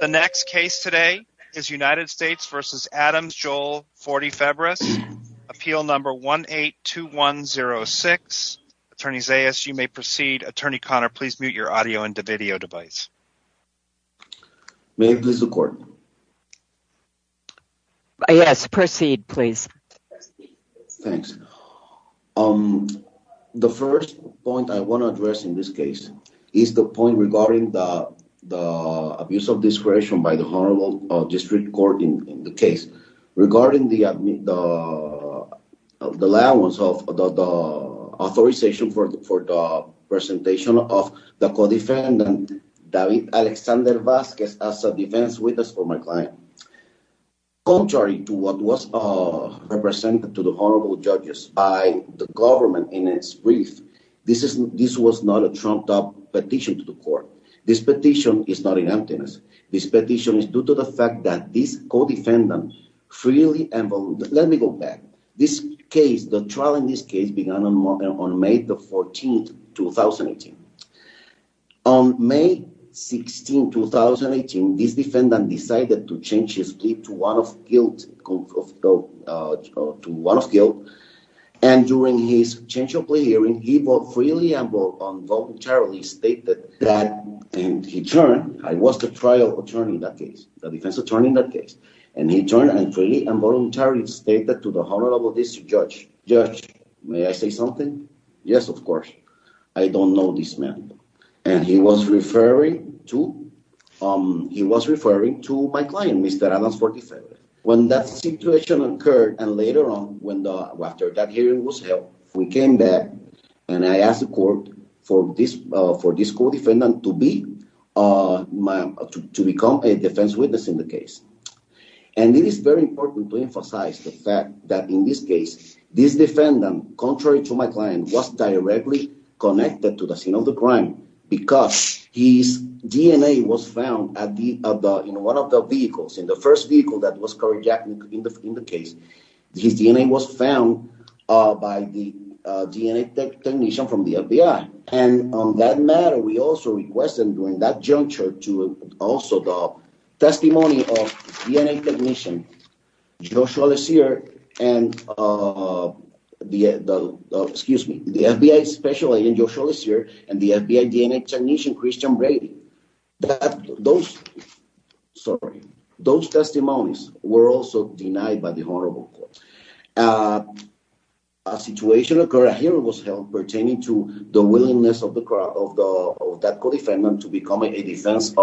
The next case today is United States v. Adams-Joel Forty-Febres. Appeal number 182106. Attorney Zayas, you may proceed. Attorney Conner, please mute your audio and video device. May I please record? Yes, proceed please. Thanks. The first point I want to address is the abuse of discretion by the Honorable District Court in the case. Regarding the allowance of the authorization for the presentation of the co-defendant, David Alexander Vasquez, as a defense witness for my client, contrary to what was represented to the Honorable Judges by the government in its brief, this was not a trumped-up petition to the court. This petition is not in emptiness. This petition is due to the fact that this co-defendant freely and... Let me go back. This case, the trial in this case, began on May 14, 2018. On May 16, 2018, this defendant decided to change his plea to one of guilt, and during his change of plea hearing, he both freely and voluntarily stated that, and he turned, I was the trial attorney in that case, the defense attorney in that case, and he turned and freely and voluntarily stated to the Honorable District Judge, Judge, may I say something? Yes, of course. I don't know this man, and he was referring to my client, Mr. Adams, for defense. When that situation occurred, and later on, after that hearing was held, we came back, and I asked the court for this co-defendant to become a defense witness in the case. And it is very important to emphasize the fact that in this case, this defendant, contrary to my client, was directly connected to the scene of the crime because his DNA was found in one of the vehicles, in the first vehicle that was carjacked in the case. His DNA was found by the DNA technician from the FBI, and on that matter, we also requested during that juncture to also the testimony of DNA technician, Joshua Lassier, and the FBI Special Agent, Joshua Lassier, and the FBI DNA technician, Christian Brady. Those, sorry, those testimonies were also denied by the Honorable Court. A situation occurred, a hearing was held pertaining to the willingness of that co-defendant to become a defense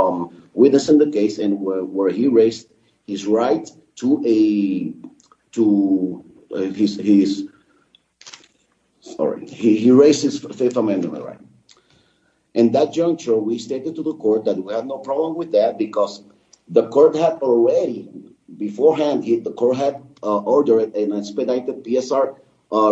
witness in the case, and where he raised his right to a, to his, sorry, he raised his Fifth Amendment right. In that juncture, we stated to the court that we had no problem with that because the court had already, beforehand, the court had ordered an expedited PSR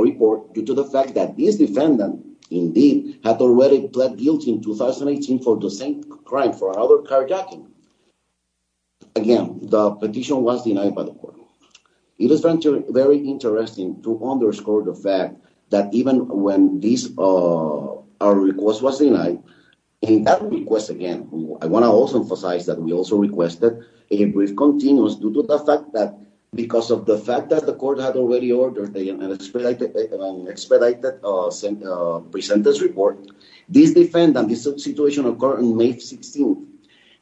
report due to the fact that this defendant, indeed, had already pled guilty in 2018 for the same crime, for another carjacking. Again, the petition was denied by the court. It is very interesting to underscore the fact that even when this, our request was denied, in that request, again, I want to also emphasize that we also requested a brief continuous due to the fact that because of the fact that the court had already ordered an expedited present this report, this defendant, this situation occurred on May 16th,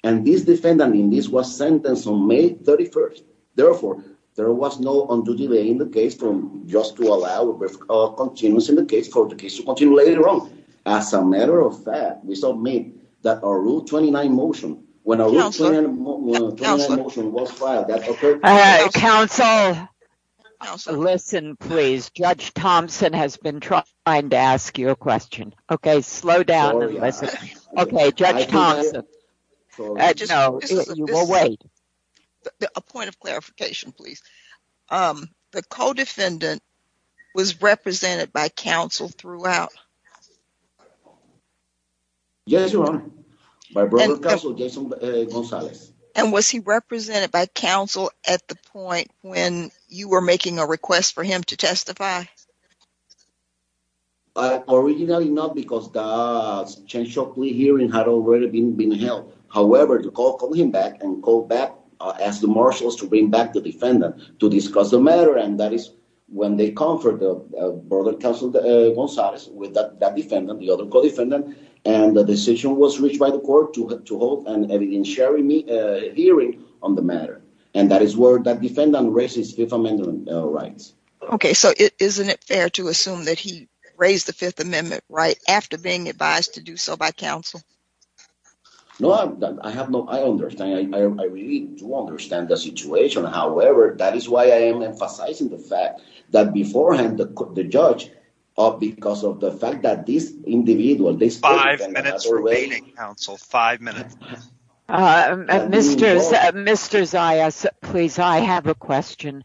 and this defendant, indeed, was sentenced on May 31st. Therefore, there was no undue delay in the case from just to allow a brief continuous in the case for the case to continue later on. As a matter of fact, we submit that our Rule 29 motion, when our Rule 29 motion was filed, that occurred. All right, counsel, listen, please. Judge Thompson has been trying to ask you a question. Okay, slow down and listen. Okay, Judge Thompson. I just know you will wait. A point of clarification, please. The co-defendant was represented by counsel throughout. Yes, Your Honor. My brother counsel, Jason Gonzalez. And was he represented by counsel at the point when you were making a request for him to testify? Originally, no, because the change of plea hearing had already been held. However, the court called him back and called back, asked the marshals to bring back the defendant to discuss the matter, and that is when they conferred the brother counsel, Gonzalez, with that defendant, the other co-defendant, and the decision was reached by the court to hold a hearing on the matter. And that is where that defendant raises Fifth Amendment rights. Okay, so isn't it fair to assume that he raised the Fifth Amendment right after being advised to do so by counsel? No, I understand. I really do understand the situation. However, that is why I am emphasizing the fact that beforehand the judge, because of the fact that this individual. Five minutes remaining, counsel. Five minutes. Mr. Zayas, please, I have a question.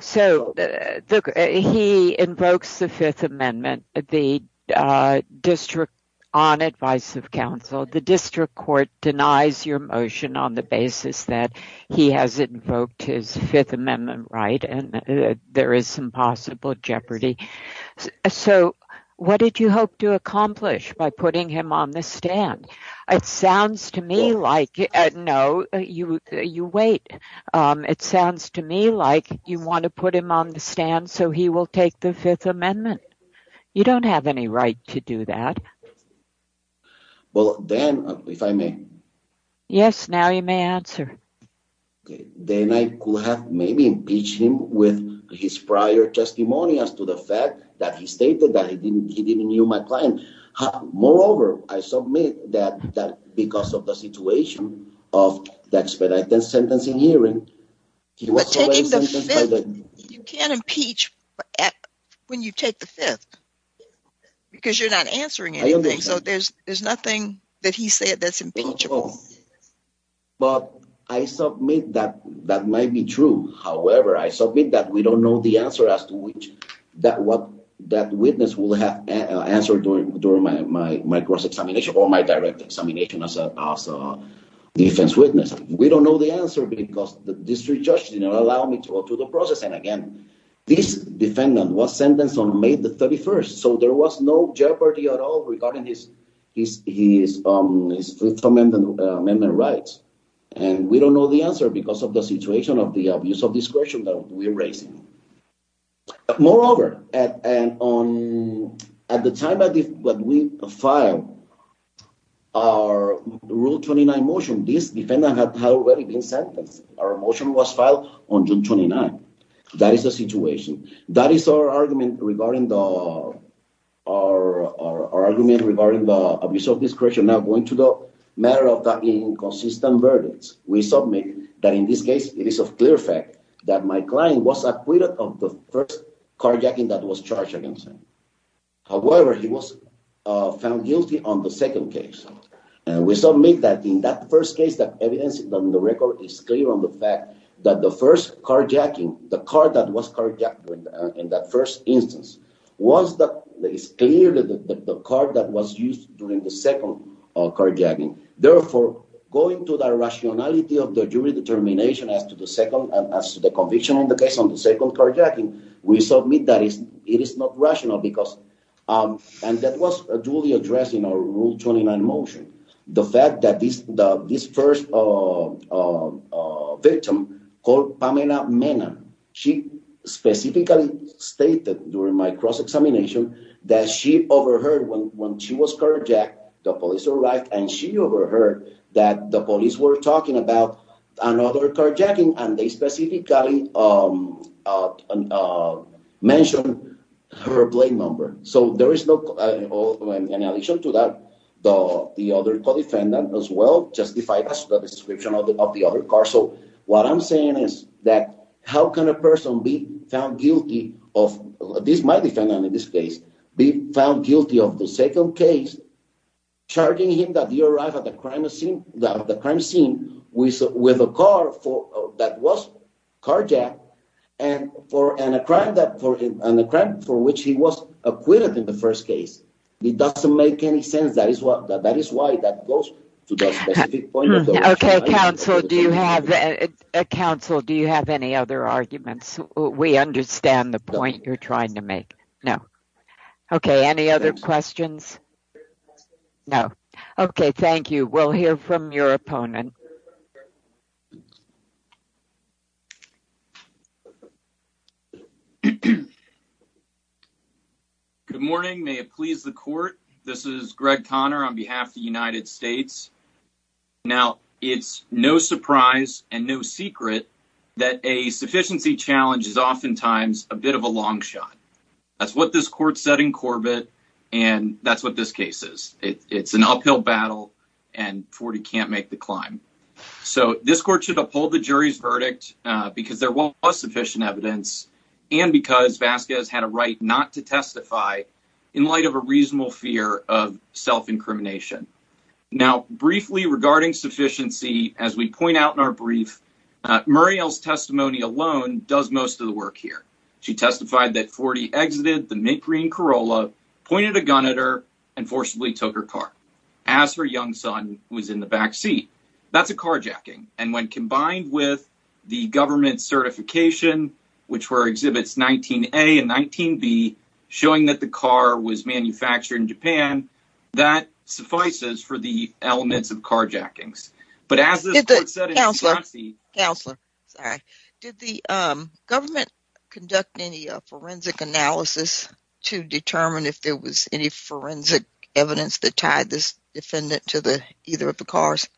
So, he invokes the Fifth Amendment on advice of counsel. The district court denies your motion on the basis that he has invoked his Fifth Amendment right and there is some possible jeopardy. So, what did you hope to accomplish by putting him on the stand? It sounds to me like, no, you wait. It sounds to me like you want to put him on the stand so he will take the Fifth Amendment. You don't have any right to do that. Well, then, if I may. Yes, now you may answer. Then I could have maybe impeached him with his prior testimony as to the fact that he stated that he didn't knew my client. Moreover, I submit that because of the situation of the expedited sentencing hearing. But taking the Fifth, you can't impeach when you take the Fifth because you're not answering anything. So, there's nothing that he said that's impeachable. But I submit that that might be true. However, I submit that we don't know the answer as to which that witness will have answered during my cross-examination or my direct examination as a defense witness. We don't know the answer because the district judge did not allow me to go through the process. And again, this defendant was sentenced on May the 31st, so there was no jeopardy at all regarding his Fifth Amendment rights. And we don't know the answer because of the situation of the abuse of discretion that we're raising. Moreover, at the time that we filed our Rule 29 motion, this defendant had already been sentenced. Our motion was filed on June 29th. That is the situation. That is our argument regarding the abuse of discretion. We're now going to the matter of inconsistent verdicts. We submit that in this case, it is of clear fact that my client was acquitted of the first carjacking that was charged against him. However, he was found guilty on the second case. We submit that in that first case, the evidence on the record is clear on the fact that the first carjacking, the car that was carjacked in that first instance, it's clear that the car that was used during the second carjacking. Therefore, going to the rationality of the jury determination as to the conviction on the case on the second carjacking, we submit that it is not rational because, and that was duly addressed in our Rule 29 motion, the fact that this first victim called Pamela Mena, she specifically stated during my cross-examination that she overheard when she was carjacked, the police arrived and she overheard that the police were talking about another carjacking and they specifically mentioned her plate number. So, in addition to that, the other co-defendant as well justified the description of the other car. So, what I'm saying is that how can a person be found guilty of, this is my defendant in this case, be found guilty of the second case, charging him that he arrived at the crime scene with a car that was carjacked and a crime for which he was acquitted in the first case. It doesn't make any sense. That is why that goes to that specific point. Okay, counsel, do you have any other arguments? We understand the point you're trying to make. No. Okay, any other questions? No. Okay, thank you. We'll hear from your opponent. Good morning. May it please the court, this is Greg Conner on behalf of the United States. Now, it's no surprise and no secret that a sufficiency challenge is oftentimes a bit of a long shot. That's what this court said in Corbett and that's what this case is. It's an uphill battle and 40 can't make the climb. So, this court should uphold the jury's verdict because there was sufficient evidence and because Vasquez had a right not to testify in light of a reasonable fear of self-incrimination. Now, briefly regarding sufficiency, as we point out in our brief, Muriel's testimony alone does most of the work here. She testified that 40 exited the mint green Corolla, pointed a gun at her and forcibly took her car, as her young son was in the backseat. That's a carjacking and when combined with the government certification, which were exhibits 19A and 19B, showing that the car was manufactured in Japan, that suffices for the elements of carjackings. Counselor, did the government conduct any forensic analysis to determine if there was any forensic evidence that tied this defendant to either of the cars?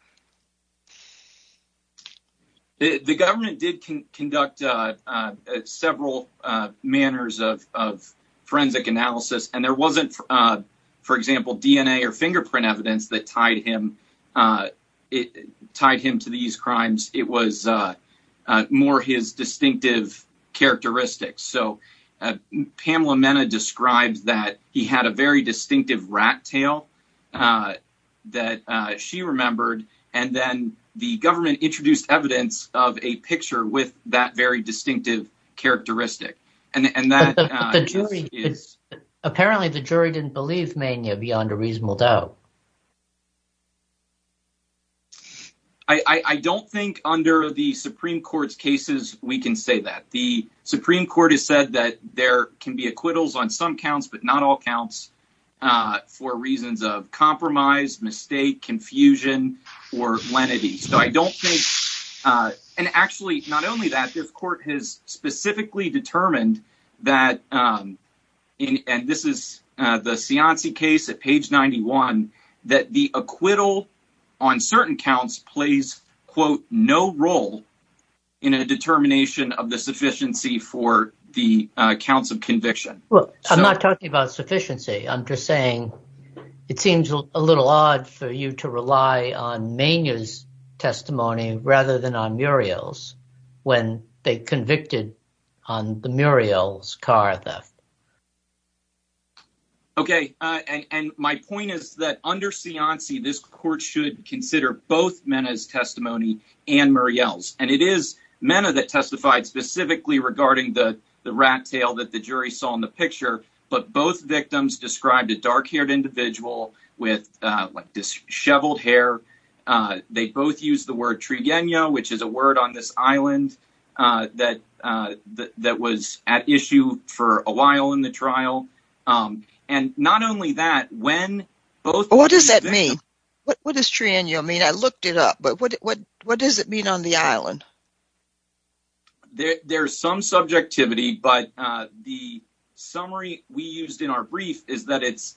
The government did conduct several manners of forensic analysis and there wasn't, for example, DNA or fingerprint evidence that tied him to these crimes. It was more his distinctive characteristics. So, Pamela Mena described that he had a very distinctive rat tail that she remembered and then the government introduced evidence of a picture with that very distinctive characteristic. Apparently, the jury didn't believe Mena beyond a reasonable doubt. I don't think under the Supreme Court's cases, we can say that. The Supreme Court has said that there can be acquittals on some counts, but not all counts for reasons of compromise, mistake, confusion or lenity. Actually, not only that. The court has specifically determined that, and this is the Cianci case at page 91, that the acquittal on certain counts plays, quote, no role in a determination of the sufficiency for the counts of conviction. I'm not talking about sufficiency. I'm just saying it seems a little odd for you to rely on Mena's testimony rather than on Muriel's when they convicted on the Muriel's car theft. Okay, and my point is that under Cianci, this court should consider both Mena's testimony and Muriel's. And it is Mena that testified specifically regarding the rat tail that the jury saw in the picture, but both victims described a dark-haired individual with disheveled hair. They both used the word trienia, which is a word on this island that was at issue for a while in the trial. And not only that, when both— What does that mean? What does trienia mean? I looked it up, but what does it mean on the island? There's some subjectivity, but the summary we used in our brief is that it's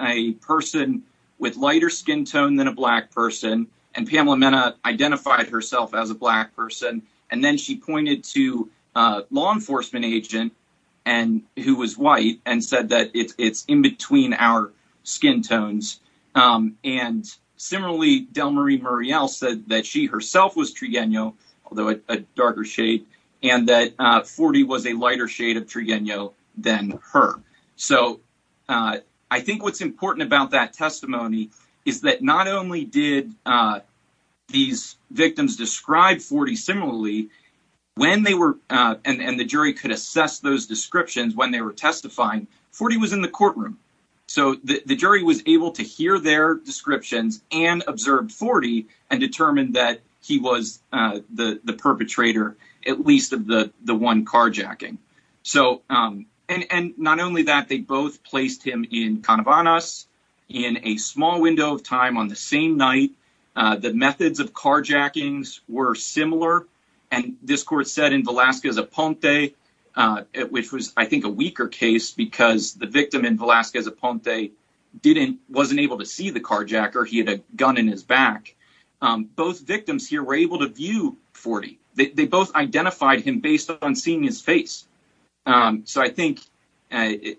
a person with lighter skin tone than a black person. And Pamela Mena identified herself as a black person. And then she pointed to a law enforcement agent who was white and said that it's in between our skin tones. And similarly, Delmarie Muriel said that she herself was trienia, although a darker shade, and that Forty was a lighter shade of trienia than her. So I think what's important about that testimony is that not only did these victims describe Forty similarly, when they were—and the jury could assess those descriptions when they were testifying, Forty was in the courtroom. So the jury was able to hear their descriptions and observe Forty and determined that he was the perpetrator, at least of the one carjacking. So and not only that, they both placed him in Canabanas in a small window of time on the same night. The methods of carjackings were similar. And this court said in Velazquez-Aponte, which was, I think, a weaker case because the victim in Velazquez-Aponte wasn't able to see the carjacker. He had a gun in his back. Both victims here were able to view Forty. They both identified him based on seeing his face. So I think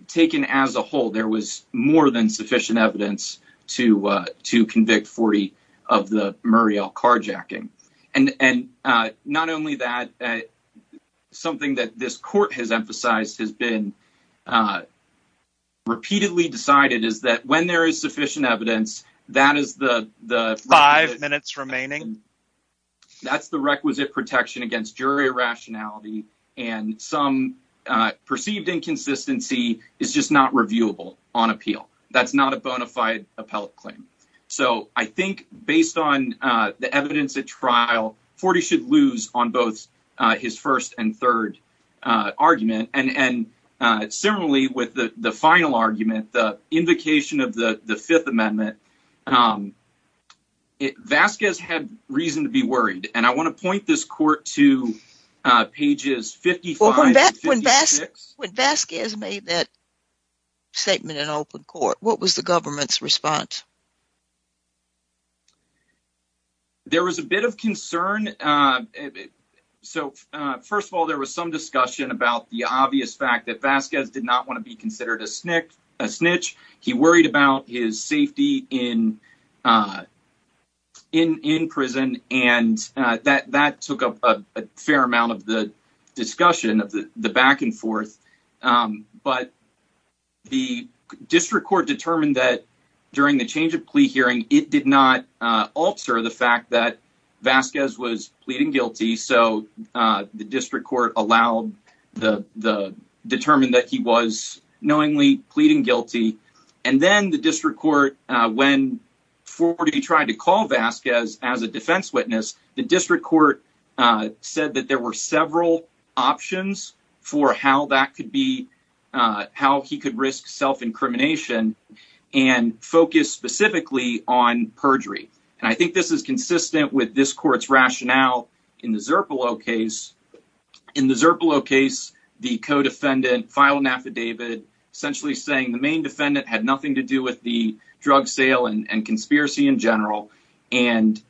taken as a whole, there was more than sufficient evidence to convict Forty of the Muriel carjacking. And not only that, something that this court has emphasized, has been repeatedly decided, is that when there is sufficient evidence, that is the— Five minutes remaining. That's the requisite protection against jury irrationality. And some perceived inconsistency is just not reviewable on appeal. That's not a bona fide appellate claim. So I think based on the evidence at trial, Forty should lose on both his first and third argument. And similarly, with the final argument, the invocation of the Fifth Amendment, Vasquez had reason to be worried. And I want to point this court to pages 55 to 56. When Vasquez made that statement in open court, what was the government's response? There was a bit of concern. So first of all, there was some discussion about the obvious fact that Vasquez did not want to be considered a snitch. He worried about his safety in prison. And that took up a fair amount of the discussion of the back and forth. But the district court determined that during the change of plea hearing, it did not alter the fact that Vasquez was pleading guilty. So the district court allowed the—determined that he was knowingly pleading guilty. And then the district court, when Forty tried to call Vasquez as a defense witness, the district court said that there were several options for how that could be, how he could risk self-incrimination and focus specifically on perjury. And I think this is consistent with this court's rationale in the Zerpillo case. In the Zerpillo case, the co-defendant filed an affidavit essentially saying the main defendant had nothing to do with the drug sale and conspiracy in general. And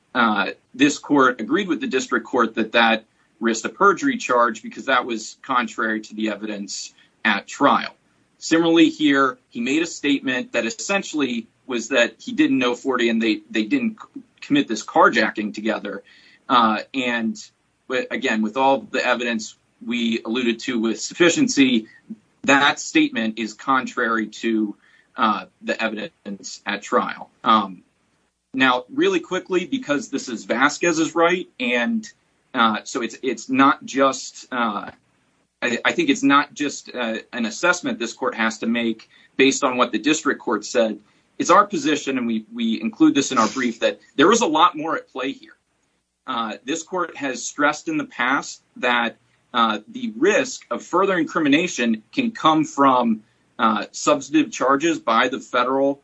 this court agreed with the district court that that risked a perjury charge because that was contrary to the evidence at trial. Similarly here, he made a statement that essentially was that he didn't know Forty and they didn't commit this carjacking together. And again, with all the evidence we alluded to with sufficiency, that statement is contrary to the evidence at trial. Now, really quickly, because this is Vasquez's right, and so it's not just— I think it's not just an assessment this court has to make based on what the district court said. It's our position, and we include this in our brief, that there was a lot more at play here. This court has stressed in the past that the risk of further incrimination can come from substantive charges by the federal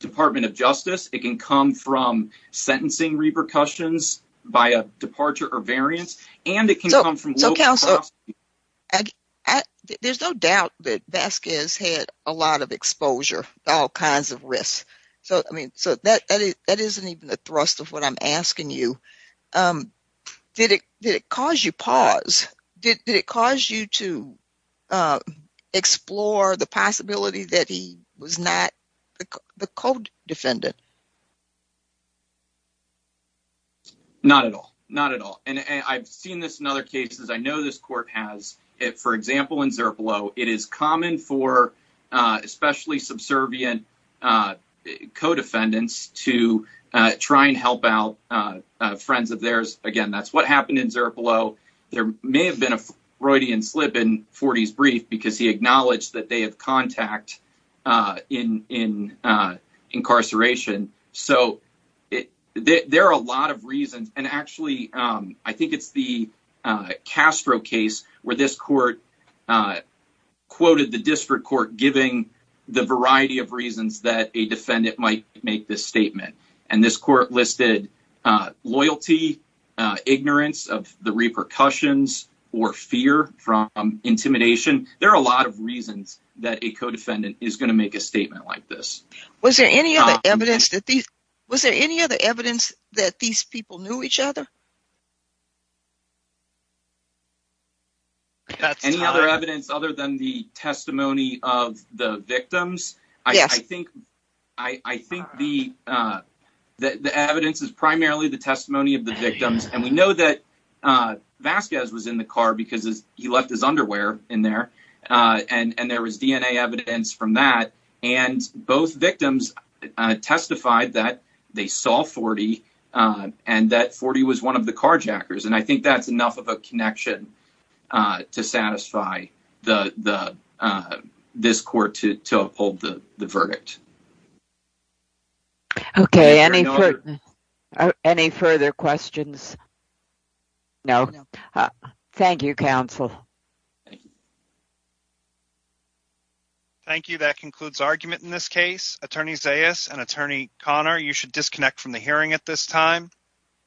Department of Justice. It can come from sentencing repercussions by a departure or variance. So, Counselor, there's no doubt that Vasquez had a lot of exposure to all kinds of risks, so that isn't even the thrust of what I'm asking you. Did it cause you pause? Did it cause you to explore the possibility that he was not the co-defendant? Not at all. Not at all. And I've seen this in other cases. I know this court has. For example, in Zerpelo, it is common for especially subservient co-defendants to try and help out friends of theirs. Again, that's what happened in Zerpelo. There may have been a Freudian slip in Forty's brief because he acknowledged that they have contact in incarceration. So there are a lot of reasons. And actually, I think it's the Castro case where this court quoted the district court giving the variety of reasons that a defendant might make this statement. And this court listed loyalty, ignorance of the repercussions, or fear from intimidation. There are a lot of reasons that a co-defendant is going to make a statement like this. Was there any other evidence that these people knew each other? Any other evidence other than the testimony of the victims? Yes. I think the evidence is primarily the testimony of the victims. And we know that Vasquez was in the car because he left his underwear in there. And there was DNA evidence from that. And both victims testified that they saw Forty and that Forty was one of the carjackers. And I think that's enough of a connection to satisfy this court to uphold the verdict. Okay, any further questions? No. Thank you, counsel. Thank you. That concludes argument in this case. Attorney Zayas and Attorney Conner, you should disconnect from the hearing at this time.